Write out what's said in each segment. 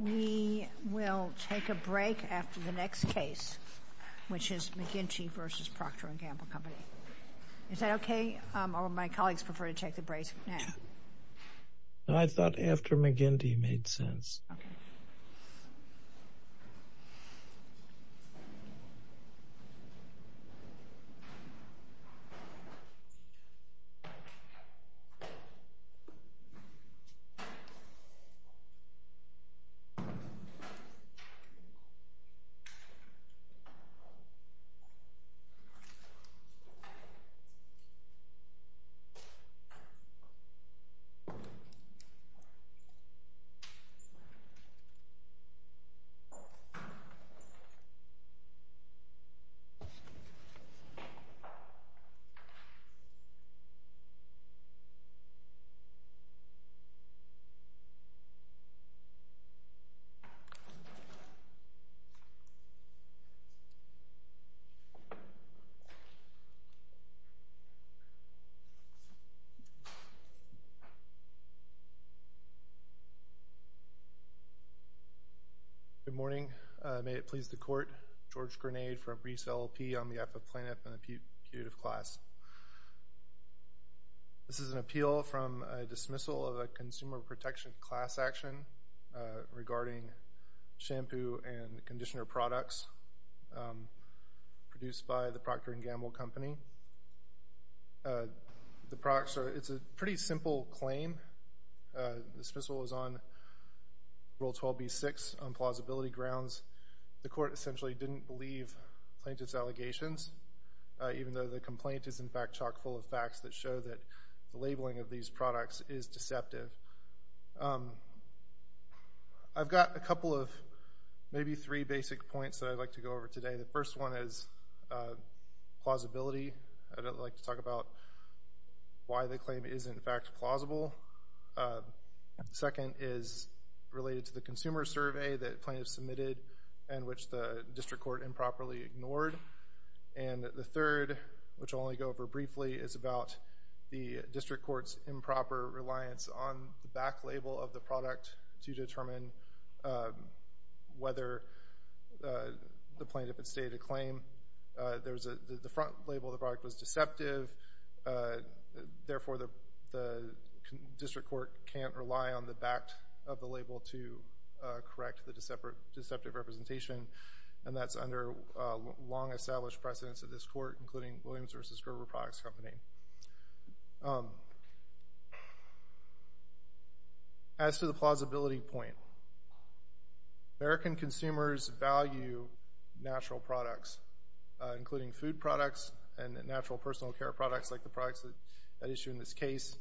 We will take a break after the next case, which is McGinty v. Procter & Gamble Company. Is that okay? Or will my colleagues prefer to take the break now? I thought after McGinty made sense. Okay. Thank you. George Grenade, EPPA Plaintiff and the Punitive Class Good morning. May it please the Court, George Grenade from Brice, LLP. I'm the EPPA Plaintiff and the Punitive Class. This is an appeal from a dismissal of a consumer protection class action regarding shampoo and conditioner products produced by the Procter & Gamble Company. It's a pretty simple claim. The dismissal is on Rule 12b-6, on plausibility grounds. The Court essentially didn't believe plaintiff's allegations, even though the complaint is, in fact, chock-full of facts that show that the labeling of these products is deceptive. I've got a couple of, maybe three, basic points that I'd like to go over today. The first one is plausibility. I'd like to talk about why the claim is, in fact, plausible. The second is related to the consumer survey that plaintiff submitted and which the district court improperly ignored. And the third, which I'll only go over briefly, is about the district court's improper reliance on the back label of the product to determine whether the plaintiff had stated a claim. The front label of the product was deceptive. Therefore, the district court can't rely on the back of the label to correct the deceptive representation. And that's under long-established precedence at this court, including Williams v. Grover Products Company. As to the plausibility point, American consumers value natural products, including food products and natural personal care products like the products at issue in this case.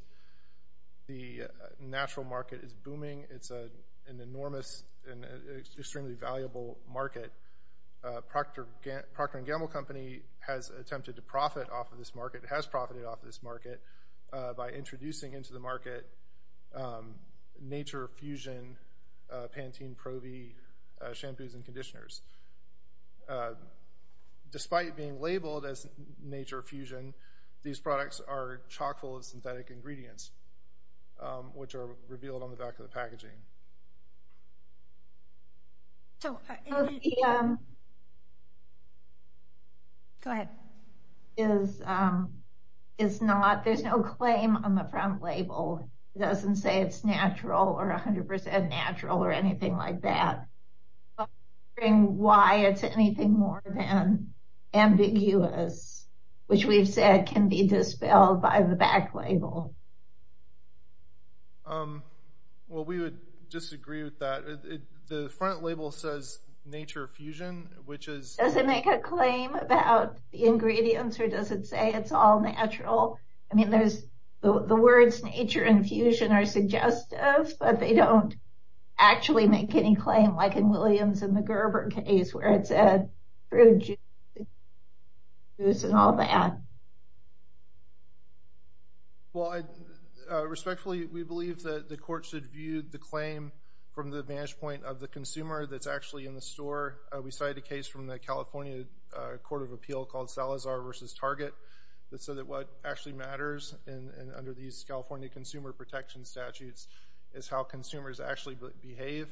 The natural market is booming. It's an enormous and extremely valuable market. Procter & Gamble Company has attempted to profit off of this market, has profited off of this market, by introducing into the market Nature Fusion Pantene Pro-V shampoos and conditioners. Despite being labeled as Nature Fusion, these products are chock-full of synthetic ingredients, which are revealed on the back of the packaging. Go ahead. There's no claim on the front label. It doesn't say it's natural or 100% natural or anything like that. I'm wondering why it's anything more than ambiguous, which we've said can be dispelled by the back label. Well, we would disagree with that. The front label says Nature Fusion, which is... Does it make a claim about the ingredients, or does it say it's all natural? I mean, the words nature and fusion are suggestive, but they don't actually make any claim, like in Williams and the Grover case, where it said... This and all that. Well, respectfully, we believe that the court should view the claim from the vantage point of the consumer that's actually in the store. We cited a case from the California Court of Appeal called Salazar v. Target that said that what actually matters, and under these California consumer protection statutes, is how consumers actually behave.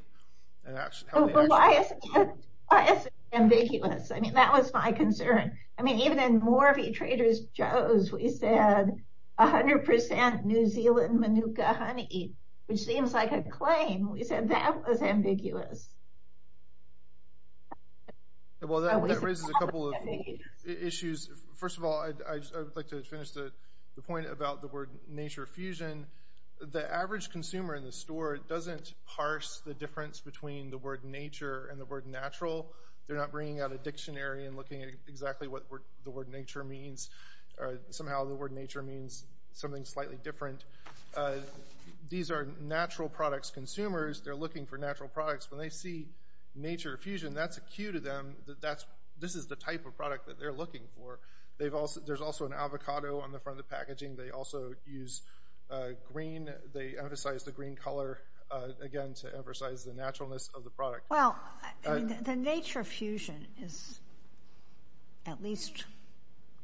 But why is it ambiguous? I mean, that was my concern. I mean, even in Morphe Traders Joe's, we said 100% New Zealand Manuka honey, which seems like a claim. We said that was ambiguous. Well, that raises a couple of issues. First of all, I would like to finish the point about the word nature fusion. The average consumer in the store doesn't parse the difference between the word nature and the word natural. They're not bringing out a dictionary and looking at exactly what the word nature means. Somehow the word nature means something slightly different. These are natural products consumers. They're looking for natural products. When they see nature fusion, that's a cue to them that this is the type of product that they're looking for. There's also an avocado on the front of the packaging. They also use green. They emphasize the green color, again, to emphasize the naturalness of the product. Well, the nature fusion is at least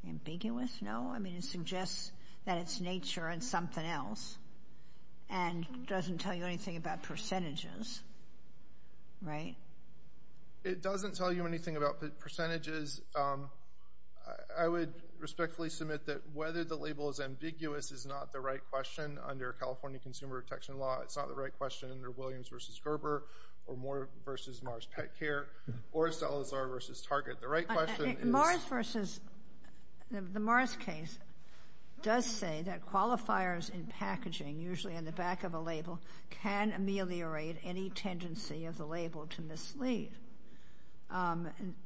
ambiguous, no? I mean, it suggests that it's nature and something else and doesn't tell you anything about percentages, right? It doesn't tell you anything about percentages. I would respectfully submit that whether the label is ambiguous is not the right question under California Consumer Protection Law. It's not the right question under Williams v. Gerber or Moore v. Mars Pet Care or Salazar v. Target. The right question is— The Mars case does say that qualifiers in packaging, usually on the back of a label, can ameliorate any tendency of the label to mislead.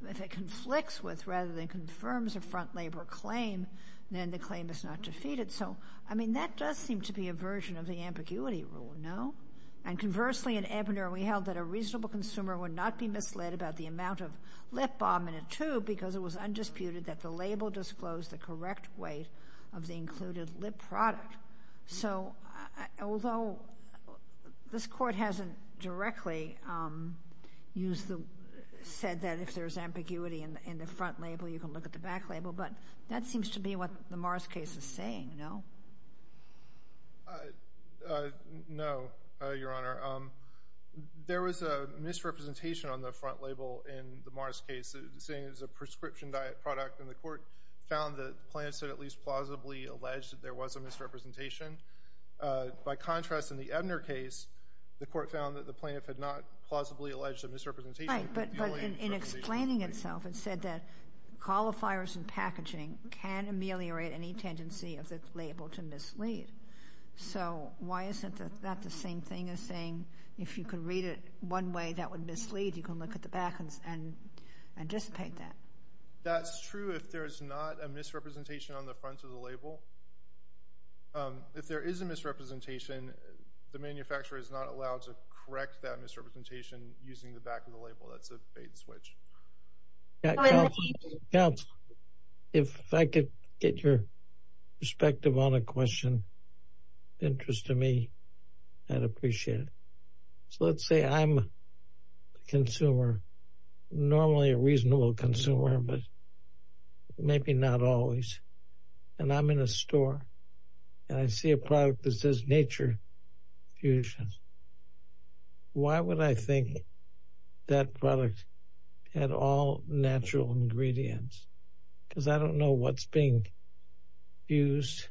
If it conflicts with, rather than confirms a front-labor claim, then the claim is not defeated. So, I mean, that does seem to be a version of the ambiguity rule, no? And conversely, at Ebner, we held that a reasonable consumer would not be misled about the amount of lip balm in a tube because it was undisputed that the label disclosed the correct weight of the included lip product. So, although this Court hasn't directly said that if there's ambiguity in the front label, you can look at the back label, but that seems to be what the Mars case is saying, no? No, Your Honor. There was a misrepresentation on the front label in the Mars case, saying it was a prescription diet product, and the Court found that the plaintiff said at least plausibly alleged that there was a misrepresentation. By contrast, in the Ebner case, the Court found that the plaintiff had not plausibly alleged a misrepresentation. Right, but in explaining itself, it said that qualifiers in packaging can ameliorate any tendency of the label to mislead. So, why isn't that the same thing as saying if you could read it one way, that would mislead? You can look at the back and anticipate that. That's true if there's not a misrepresentation on the front of the label. If there is a misrepresentation, the manufacturer is not allowed to correct that misrepresentation using the back of the label. That's a bait and switch. Counsel, if I could get your perspective on a question of interest to me, I'd appreciate it. So, let's say I'm a consumer, normally a reasonable consumer, but maybe not always. And I'm in a store, and I see a product that says Nature Fusion. Why would I think that product had all natural ingredients? Because I don't know what's being used.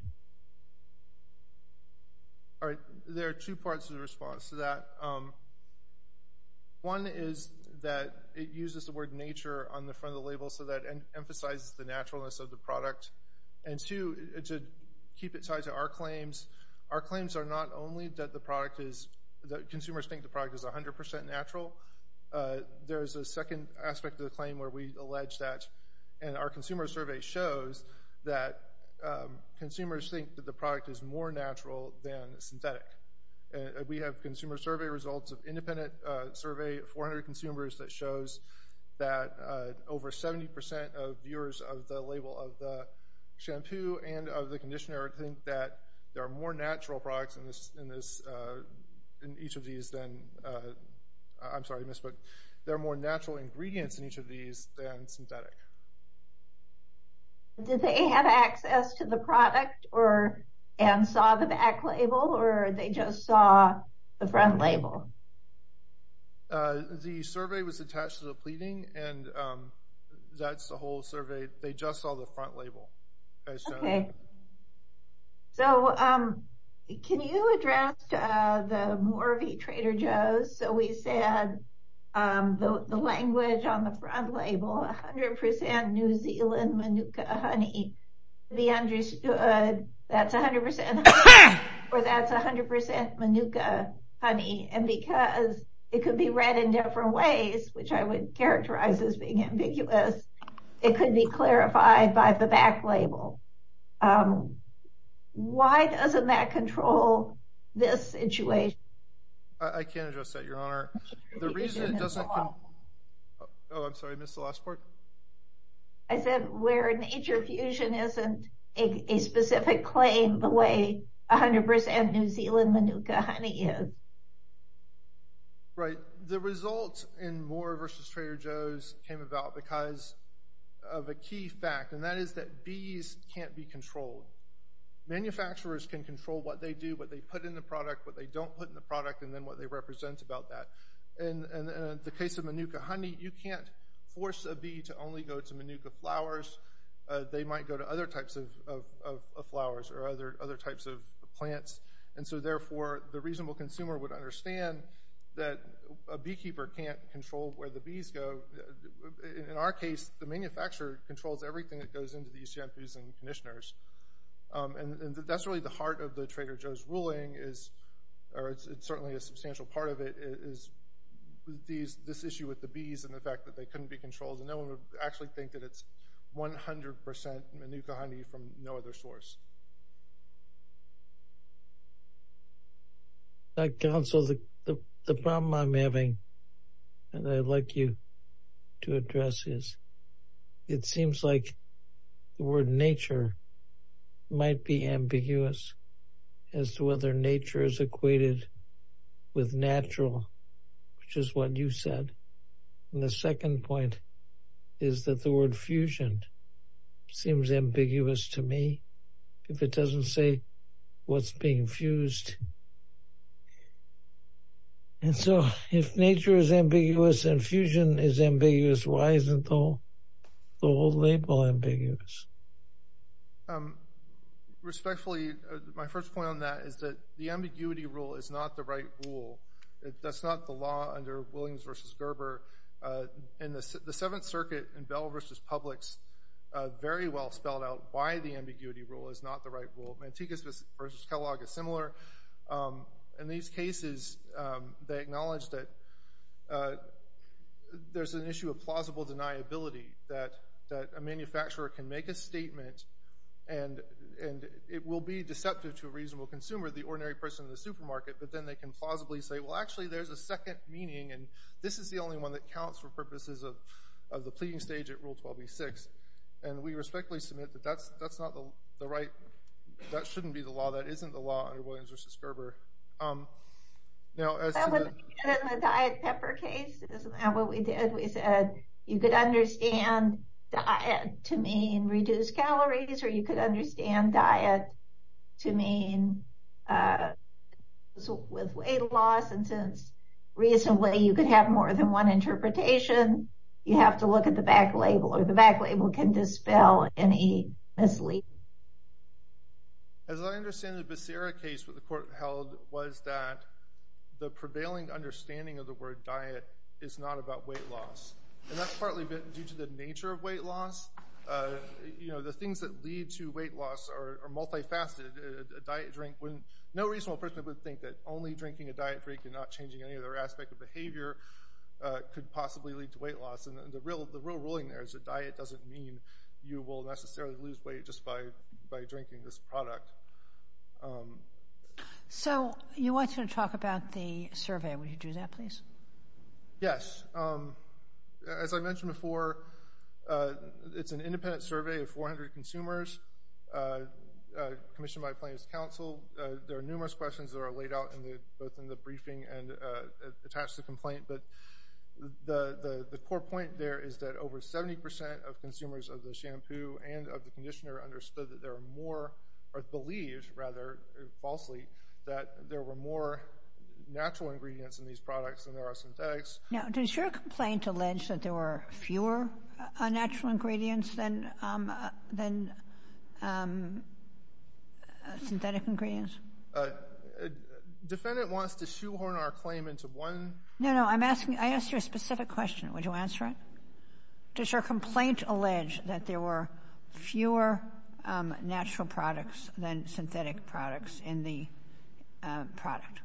All right, there are two parts to the response to that. One is that it uses the word nature on the front of the label so that it emphasizes the naturalness of the product. And two, to keep it tied to our claims, our claims are not only that consumers think the product is 100% natural. There's a second aspect to the claim where we allege that. And our consumer survey shows that consumers think that the product is more natural than synthetic. We have consumer survey results of independent survey, 400 consumers, that shows that over 70% of viewers of the label of the shampoo and of the conditioner think that there are more natural products in each of these than, I'm sorry to miss, but there are more natural ingredients in each of these than synthetic. Did they have access to the product and saw the back label, or they just saw the front label? The survey was attached to the pleading, and that's the whole survey. They just saw the front label. So can you address the Morvey Trader Joe's? So we said the language on the front label, 100% New Zealand Manuka honey. To be understood, that's 100% Manuka honey. And because it could be read in different ways, which I would characterize as being ambiguous, it could be clarified by the back label. Why doesn't that control this situation? I can't address that, Your Honor. The reason it doesn't—oh, I'm sorry, I missed the last part. I said where Nature Fusion isn't a specific claim the way 100% New Zealand Manuka honey is. Right. The results in Morvey versus Trader Joe's came about because of a key fact, and that is that bees can't be controlled. Manufacturers can control what they do, what they put in the product, what they don't put in the product, and then what they represent about that. In the case of Manuka honey, you can't force a bee to only go to Manuka flowers. They might go to other types of flowers or other types of plants. And so, therefore, the reasonable consumer would understand that a beekeeper can't control where the bees go. In our case, the manufacturer controls everything that goes into these shampoos and conditioners. And that's really the heart of the Trader Joe's ruling, or it's certainly a substantial part of it, is this issue with the bees and the fact that they couldn't be controlled. No one would actually think that it's 100% Manuka honey from no other source. Council, the problem I'm having, and I'd like you to address is, it seems like the word nature might be ambiguous as to whether nature is equated with natural, which is what you said. And the second point is that the word fusion seems ambiguous to me, if it doesn't say what's being fused. And so, if nature is ambiguous and fusion is ambiguous, why isn't the whole label ambiguous? Respectfully, my first point on that is that the ambiguity rule is not the right rule. That's not the law under Williams v. Gerber. In the Seventh Circuit, in Bell v. Publix, very well spelled out why the ambiguity rule is not the right rule. Mantegas v. Kellogg is similar. In these cases, they acknowledge that there's an issue of plausible deniability, that a manufacturer can make a statement and it will be deceptive to a reasonable consumer, the ordinary person in the supermarket, but then they can plausibly say, well, actually, there's a second meaning and this is the only one that counts for purposes of the pleading stage at Rule 12b-6. And we respectfully submit that that's not the right, that shouldn't be the law, that isn't the law under Williams v. Gerber. In the diet pepper case, what we did, we said, you could understand diet to mean reduced calories, or you could understand diet to mean weight loss, and since reasonably you could have more than one interpretation, you have to look at the back label, or the back label can dispel any misleading. As I understand the Becerra case, what the court held was that the prevailing understanding of the word diet is not about weight loss. And that's partly due to the nature of weight loss. The things that lead to weight loss are multifaceted. A diet drink, no reasonable person would think that only drinking a diet drink and not changing any other aspect of behavior could possibly lead to weight loss. And the real ruling there is that diet doesn't mean you will necessarily lose weight just by drinking this product. So you want to talk about the survey. Would you do that, please? Yes. As I mentioned before, it's an independent survey of 400 consumers commissioned by Plaintiff's Counsel. There are numerous questions that are laid out both in the briefing and attached to the complaint. But the core point there is that over 70% of consumers of the shampoo and of the conditioner understood that there were more, or believed, rather falsely, that there were more natural ingredients in these products than there are synthetics. Now, does your complaint allege that there were fewer natural ingredients than synthetic ingredients? Defendant wants to shoehorn our claim into one— No, no. I'm asking—I asked you a specific question. Would you answer it? Does your complaint allege that there were fewer natural products than synthetic products in the product?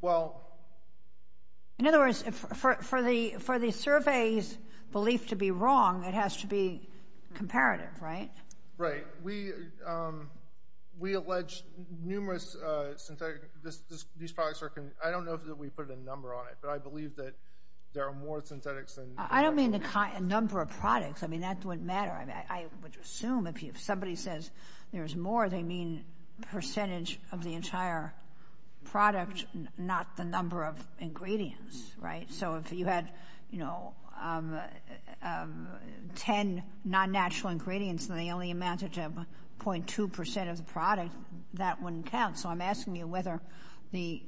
Well— In other words, for the survey's belief to be wrong, it has to be comparative, right? Right. We allege numerous synthetic—these products are— I don't know that we put a number on it, but I believe that there are more synthetics than— I don't mean the number of products. I mean, that wouldn't matter. I would assume if somebody says there's more, they mean percentage of the entire product, not the number of ingredients, right? So if you had, you know, 10 non-natural ingredients and they only amounted to 0.2% of the product, that wouldn't count. So I'm asking you whether the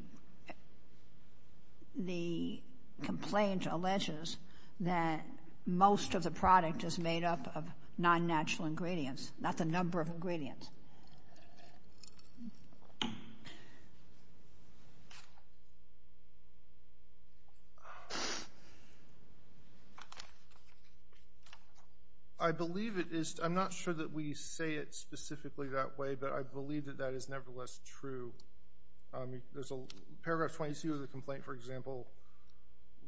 complaint alleges that most of the product is made up of non-natural ingredients, not the number of ingredients. I believe it is—I'm not sure that we say it specifically that way, but I believe that that is nevertheless true. There's a—paragraph 22 of the complaint, for example,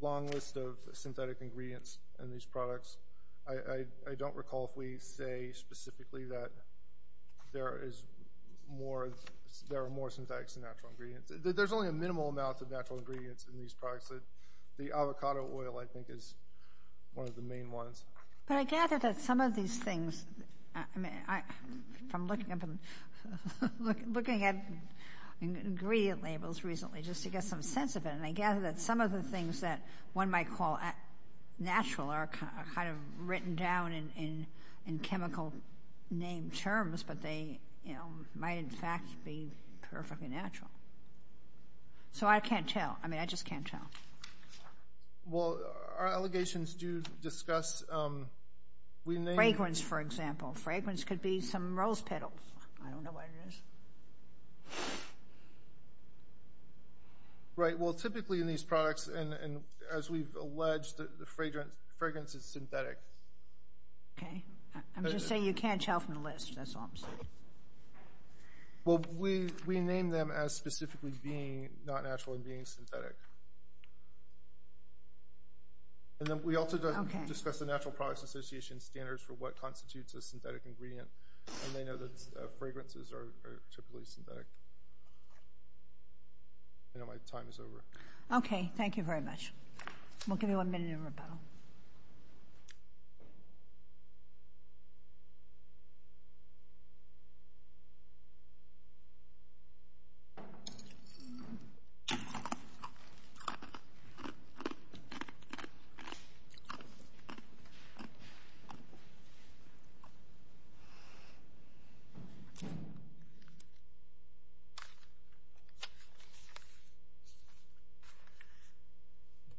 long list of synthetic ingredients in these products. I don't recall if we say specifically that there is more— there are more synthetics than natural ingredients. There's only a minimal amount of natural ingredients in these products. The avocado oil, I think, is one of the main ones. But I gather that some of these things— I'm looking at ingredient labels recently just to get some sense of it, and I gather that some of the things that one might call natural are kind of written down in chemical name terms, but they might in fact be perfectly natural. So I can't tell. I mean, I just can't tell. Well, our allegations do discuss— Fragrance, for example. Fragrance could be some rose petals. I don't know what it is. Right. Well, typically in these products, and as we've alleged, the fragrance is synthetic. Okay. I'm just saying you can't tell from the list. That's all I'm saying. Well, we name them as specifically being not natural and being synthetic. And then we also discuss the Natural Products Association standards for what constitutes a synthetic ingredient, and they know that fragrances are typically synthetic. I know my time is over. Okay. Thank you very much. We'll give you one minute of rebuttal.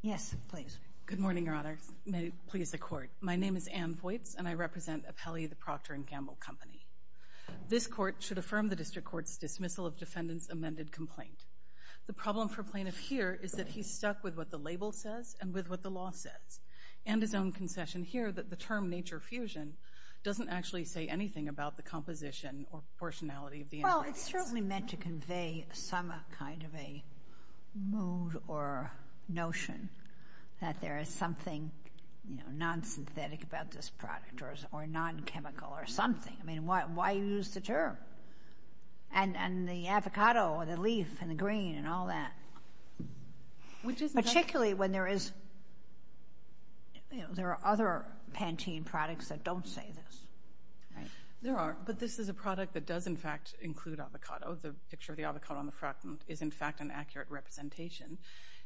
Yes, please. Good morning, Your Honor. May it please the Court. My name is Ann Voights, and I represent Apelli, the Procter & Gamble Company. This Court should affirm the District Court's dismissal of defendant's amended complaint. The problem for plaintiff here is that he's stuck with what the label says and with what the law says, and his own concession here that the term nature fusion doesn't actually say anything about the composition or proportionality of the ingredients. Well, it's certainly meant to convey some kind of a mood or notion that there is something non-synthetic about this product or non-chemical or something. I mean, why use the term? And the avocado or the leaf and the green and all that, particularly when there are other Pantene products that don't say this. There are. But this is a product that does, in fact, include avocado. The picture of the avocado on the front is, in fact, an accurate representation.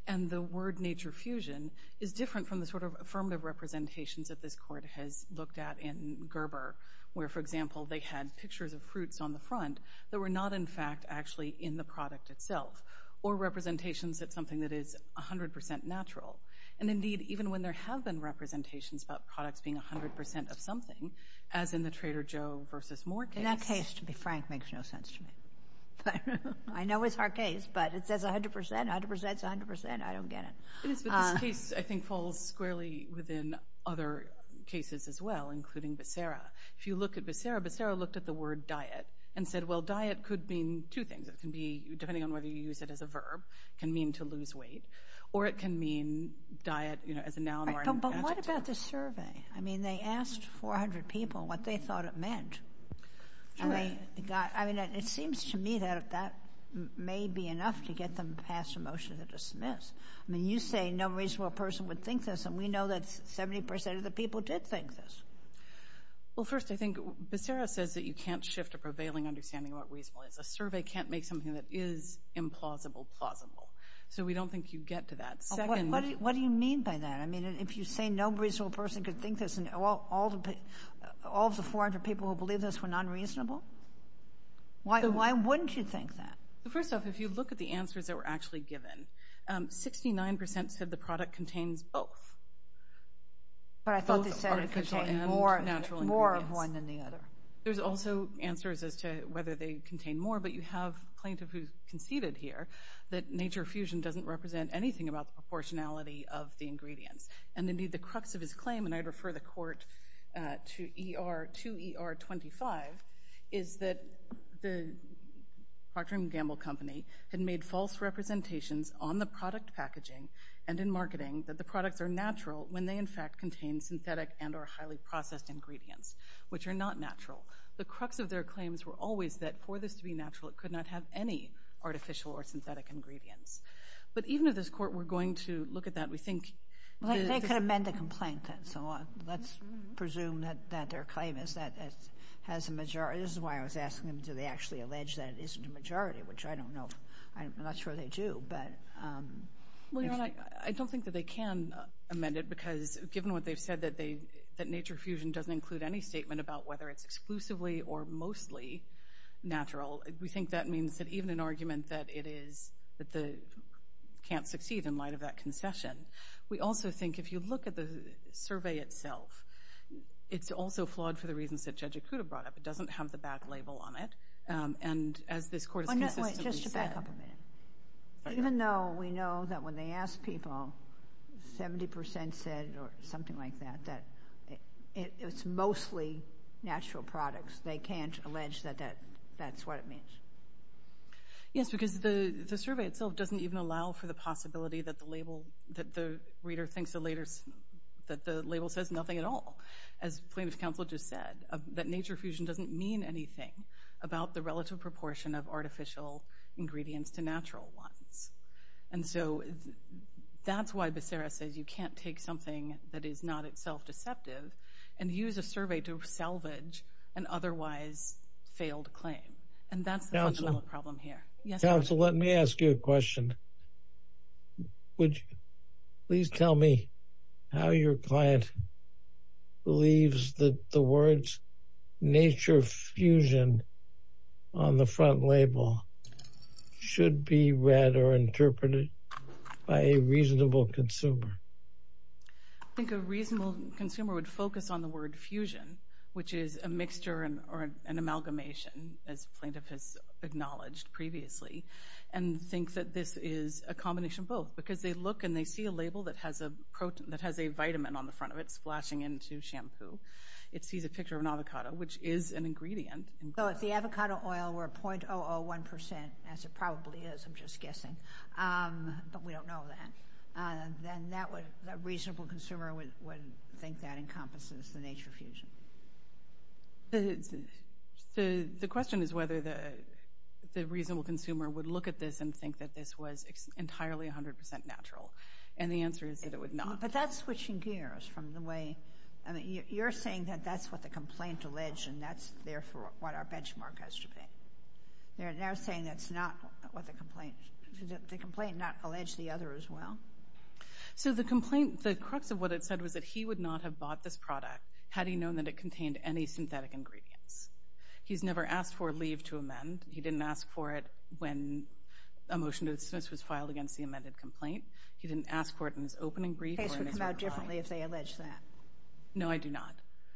And the word nature fusion is different from the sort of affirmative representations that this Court has looked at in Gerber, where, for example, they had pictures of fruits on the front that were not, in fact, actually in the product itself or representations that something that is 100% natural. And indeed, even when there have been representations about products being 100% of something, as in the Trader Joe versus Moore case... In that case, to be frank, makes no sense to me. I know it's our case, but it says 100%, 100%, 100%. I don't get it. It is, but this case, I think, falls squarely within other cases as well, including Becerra. If you look at Becerra, Becerra looked at the word diet and said, well, diet could mean two things. It can be, depending on whether you use it as a verb, it can mean to lose weight, or it can mean diet as a noun or an adjective. But what about the survey? I mean, they asked 400 people what they thought it meant. I mean, it seems to me that that may be enough to get them passed a motion to dismiss. I mean, you say no reasonable person would think this, and we know that 70% of the people did think this. Well, first, I think Becerra says that you can't shift a prevailing understanding about reasonableness. A survey can't make something that is implausible plausible. So we don't think you'd get to that. What do you mean by that? I mean, if you say no reasonable person could think this and all of the 400 people who believed this were not reasonable, why wouldn't you think that? First off, if you look at the answers that were actually given, 69% said the product contains both. But I thought they said it contained more of one than the other. There's also answers as to whether they contain more, but you have a plaintiff who conceded here that Nature Fusion doesn't represent anything about the proportionality of the ingredients. And, indeed, the crux of his claim, and I'd refer the court to ER25, is that the Procter & Gamble company had made false representations on the product packaging and in marketing that the products are natural when they, in fact, contain synthetic and are highly processed ingredients, which are not natural. The crux of their claims were always that for this to be natural, it could not have any artificial or synthetic ingredients. But even if this court were going to look at that, we think... They could amend the complaint then. So let's presume that their claim is that it has a majority. This is why I was asking them, do they actually allege that it isn't a majority, which I don't know. I'm not sure they do. Well, Your Honor, I don't think that they can amend it because given what they've said, that Nature Fusion doesn't include any statement about whether it's exclusively or mostly natural, we think that means that even an argument that it can't succeed in light of that concession. We also think if you look at the survey itself, it's also flawed for the reasons that Judge Ikuda brought up. It doesn't have the back label on it. And as this court has consistently said... Wait, just back up a minute. Even though we know that when they ask people, 70% said something like that, that it's mostly natural products. They can't allege that that's what it means. Yes, because the survey itself doesn't even allow for the possibility that the reader thinks the label says nothing at all. As plaintiff's counsel just said, that Nature Fusion doesn't mean anything about the relative proportion of artificial ingredients to natural ones. And so that's why Becerra says you can't take something that is not itself deceptive and use a survey to salvage an otherwise failed claim. And that's the fundamental problem here. Counsel, let me ask you a question. Would you please tell me how your client believes that the words Nature Fusion on the front label should be read or interpreted by a reasonable consumer? I think a reasonable consumer would focus on the word fusion, which is a mixture or an amalgamation, as plaintiff has acknowledged previously, and thinks that this is a combination of both. Because they look and they see a label that has a vitamin on the front of it, splashing into shampoo. It sees a picture of an avocado, which is an ingredient. So if the avocado oil were 0.001%, as it probably is, I'm just guessing, but we don't know that, then a reasonable consumer would think that encompasses the Nature Fusion. The question is whether the reasonable consumer would look at this and think that this was entirely 100% natural. And the answer is that it would not. But that's switching gears from the way... You're saying that that's what the complaint alleged, and that's therefore what our benchmark has to be. They're now saying that's not what the complaint... Did the complaint not allege the other as well? So the complaint, the crux of what it said was that he would not have bought this product had he known that it contained any synthetic ingredients. He's never asked for a leave to amend. He didn't ask for it when a motion to dismiss was filed against the amended complaint. He didn't ask for it in his opening brief or in his reply. No, I do not.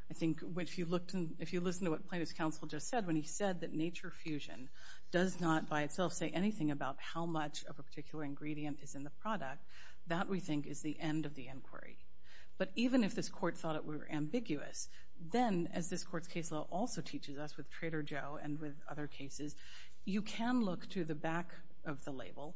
I think if you listen to what plaintiff's counsel just said, when he said that Nature Fusion does not by itself say anything about how much of a particular ingredient is in the product, that, we think, is the end of the inquiry. But even if this court thought it were ambiguous, then, as this court's case law also teaches us with Trader Joe and with other cases, you can look to the back of the label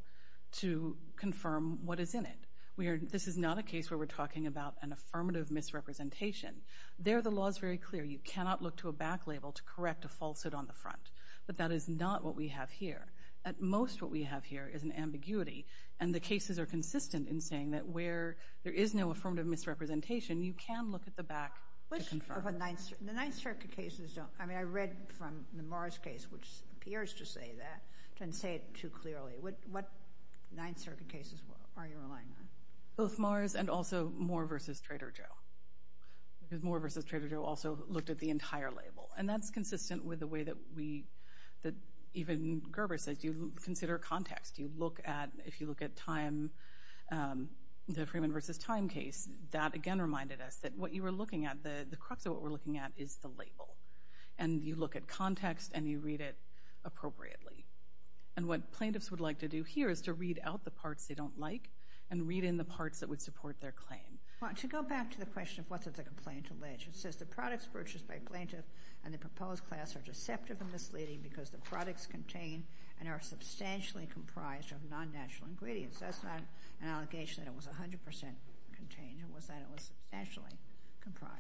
to confirm what is in it. This is not a case where we're talking about an affirmative misrepresentation. There, the law is very clear. You cannot look to a back label to correct a falsehood on the front. But that is not what we have here. At most, what we have here is an ambiguity, and the cases are consistent in saying that where there is no affirmative misrepresentation, you can look at the back to confirm. The Ninth Circuit cases don't... I mean, I read from the Morris case, which appears to say that, but I didn't say it too clearly. What Ninth Circuit cases are you relying on? Both Morris and also Moore v. Trader Joe. Because Moore v. Trader Joe also looked at the entire label. And that's consistent with the way that we... that even Gerber says you consider context. You look at... if you look at time... the Freeman v. Time case, that, again, reminded us that what you were looking at, the crux of what we're looking at, is the label. And you look at context, and you read it appropriately. And what plaintiffs would like to do here is to read out the parts they don't like and read in the parts that would support their claim. To go back to the question of what's a complaint alleged, it says the products purchased by a plaintiff and the proposed class are deceptive and misleading because the products contain and are substantially comprised of non-natural ingredients. That's not an allegation that it was 100% contained. It was that it was nationally comprised.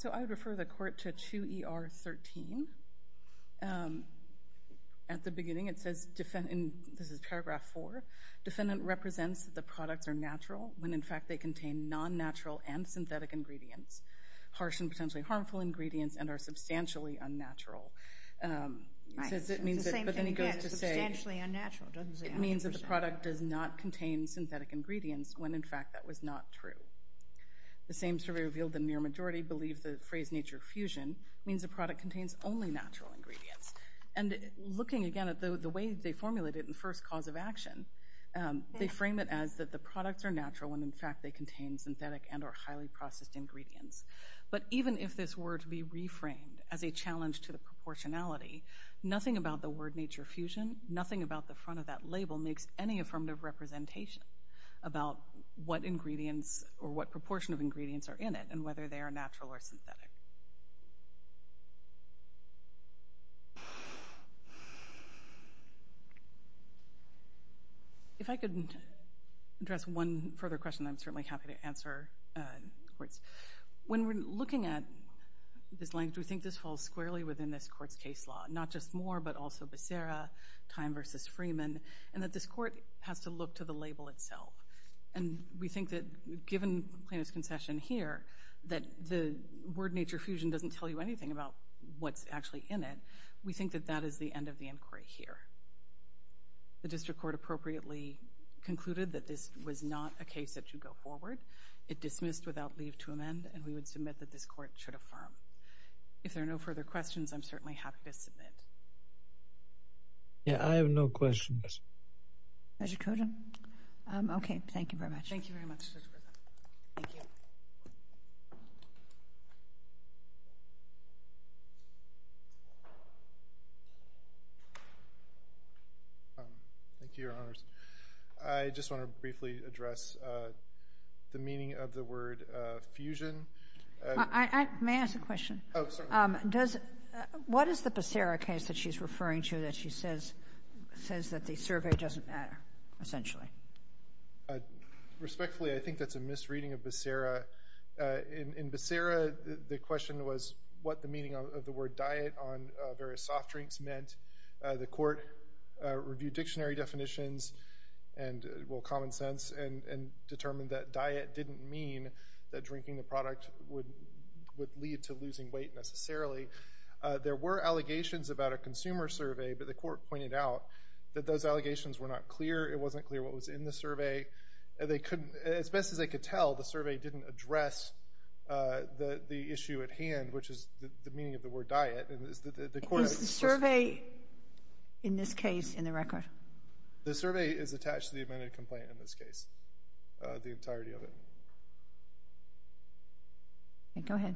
So I would refer the Court to 2 ER 13. At the beginning, it says... this is paragraph 4. Defendant represents that the products are natural when, in fact, they contain non-natural and synthetic ingredients, harsh and potentially harmful ingredients, and are substantially unnatural. It means that... But then he goes to say... It means that the product does not contain synthetic ingredients when, in fact, that was not true. The same survey revealed the near majority believe the phrase nature fusion means the product contains only natural ingredients. And looking again at the way they formulated it in the first cause of action, they frame it as that the products are natural when, in fact, they contain synthetic and or highly processed ingredients. But even if this were to be reframed as a challenge to the proportionality, nothing about the word nature fusion, nothing about the front of that label makes any affirmative representation about what ingredients or what proportion of ingredients are in it and whether they are natural or synthetic. If I could address one further question, I'm certainly happy to answer, of course. When we're looking at this language, we think this falls squarely within this court's case law, not just Moore but also Becerra, Time v. Freeman, and that this court has to look to the label itself. And we think that, given Plano's concession here, that the word nature fusion doesn't tell you anything about what's actually in it. We think that that is the end of the inquiry here. The district court appropriately concluded that this was not a case that should go forward. It dismissed without leave to amend, and we would submit that this court should affirm. If there are no further questions, I'm certainly happy to submit. Yeah, I have no questions. Mr. Koda? Okay, thank you very much. Thank you very much. Thank you. Thank you, Your Honors. I just want to briefly address the meaning of the word fusion. May I ask a question? Oh, certainly. What is the Becerra case that she's referring to that she says that the survey doesn't matter, essentially? Respectfully, I think that's a misreading of Becerra. In Becerra, the question was what the meaning of the word diet on various soft drinks meant. The court reviewed dictionary definitions and, well, common sense, and determined that diet didn't mean that drinking the product would lead to losing weight necessarily. There were allegations about a consumer survey, but the court pointed out that those allegations were not clear. It wasn't clear what was in the survey. As best as they could tell, the survey didn't address the issue at hand, which is the meaning of the word diet. Is the survey in this case in the record? The survey is attached to the amended complaint in this case, the entirety of it. Go ahead.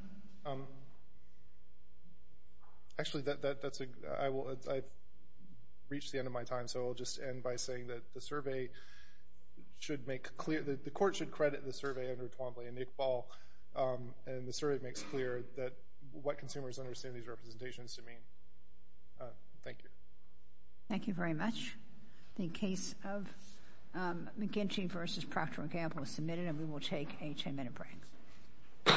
Actually, that's a... I've reached the end of my time, so I'll just end by saying that the survey should make clear... The court should credit the survey under Twombly and Iqbal, and the survey makes clear what consumers understand these representations to mean. Thank you. Thank you very much. The case of McGinty v. Proctor & Gamble is submitted, and we will take a 10-minute break. All rise.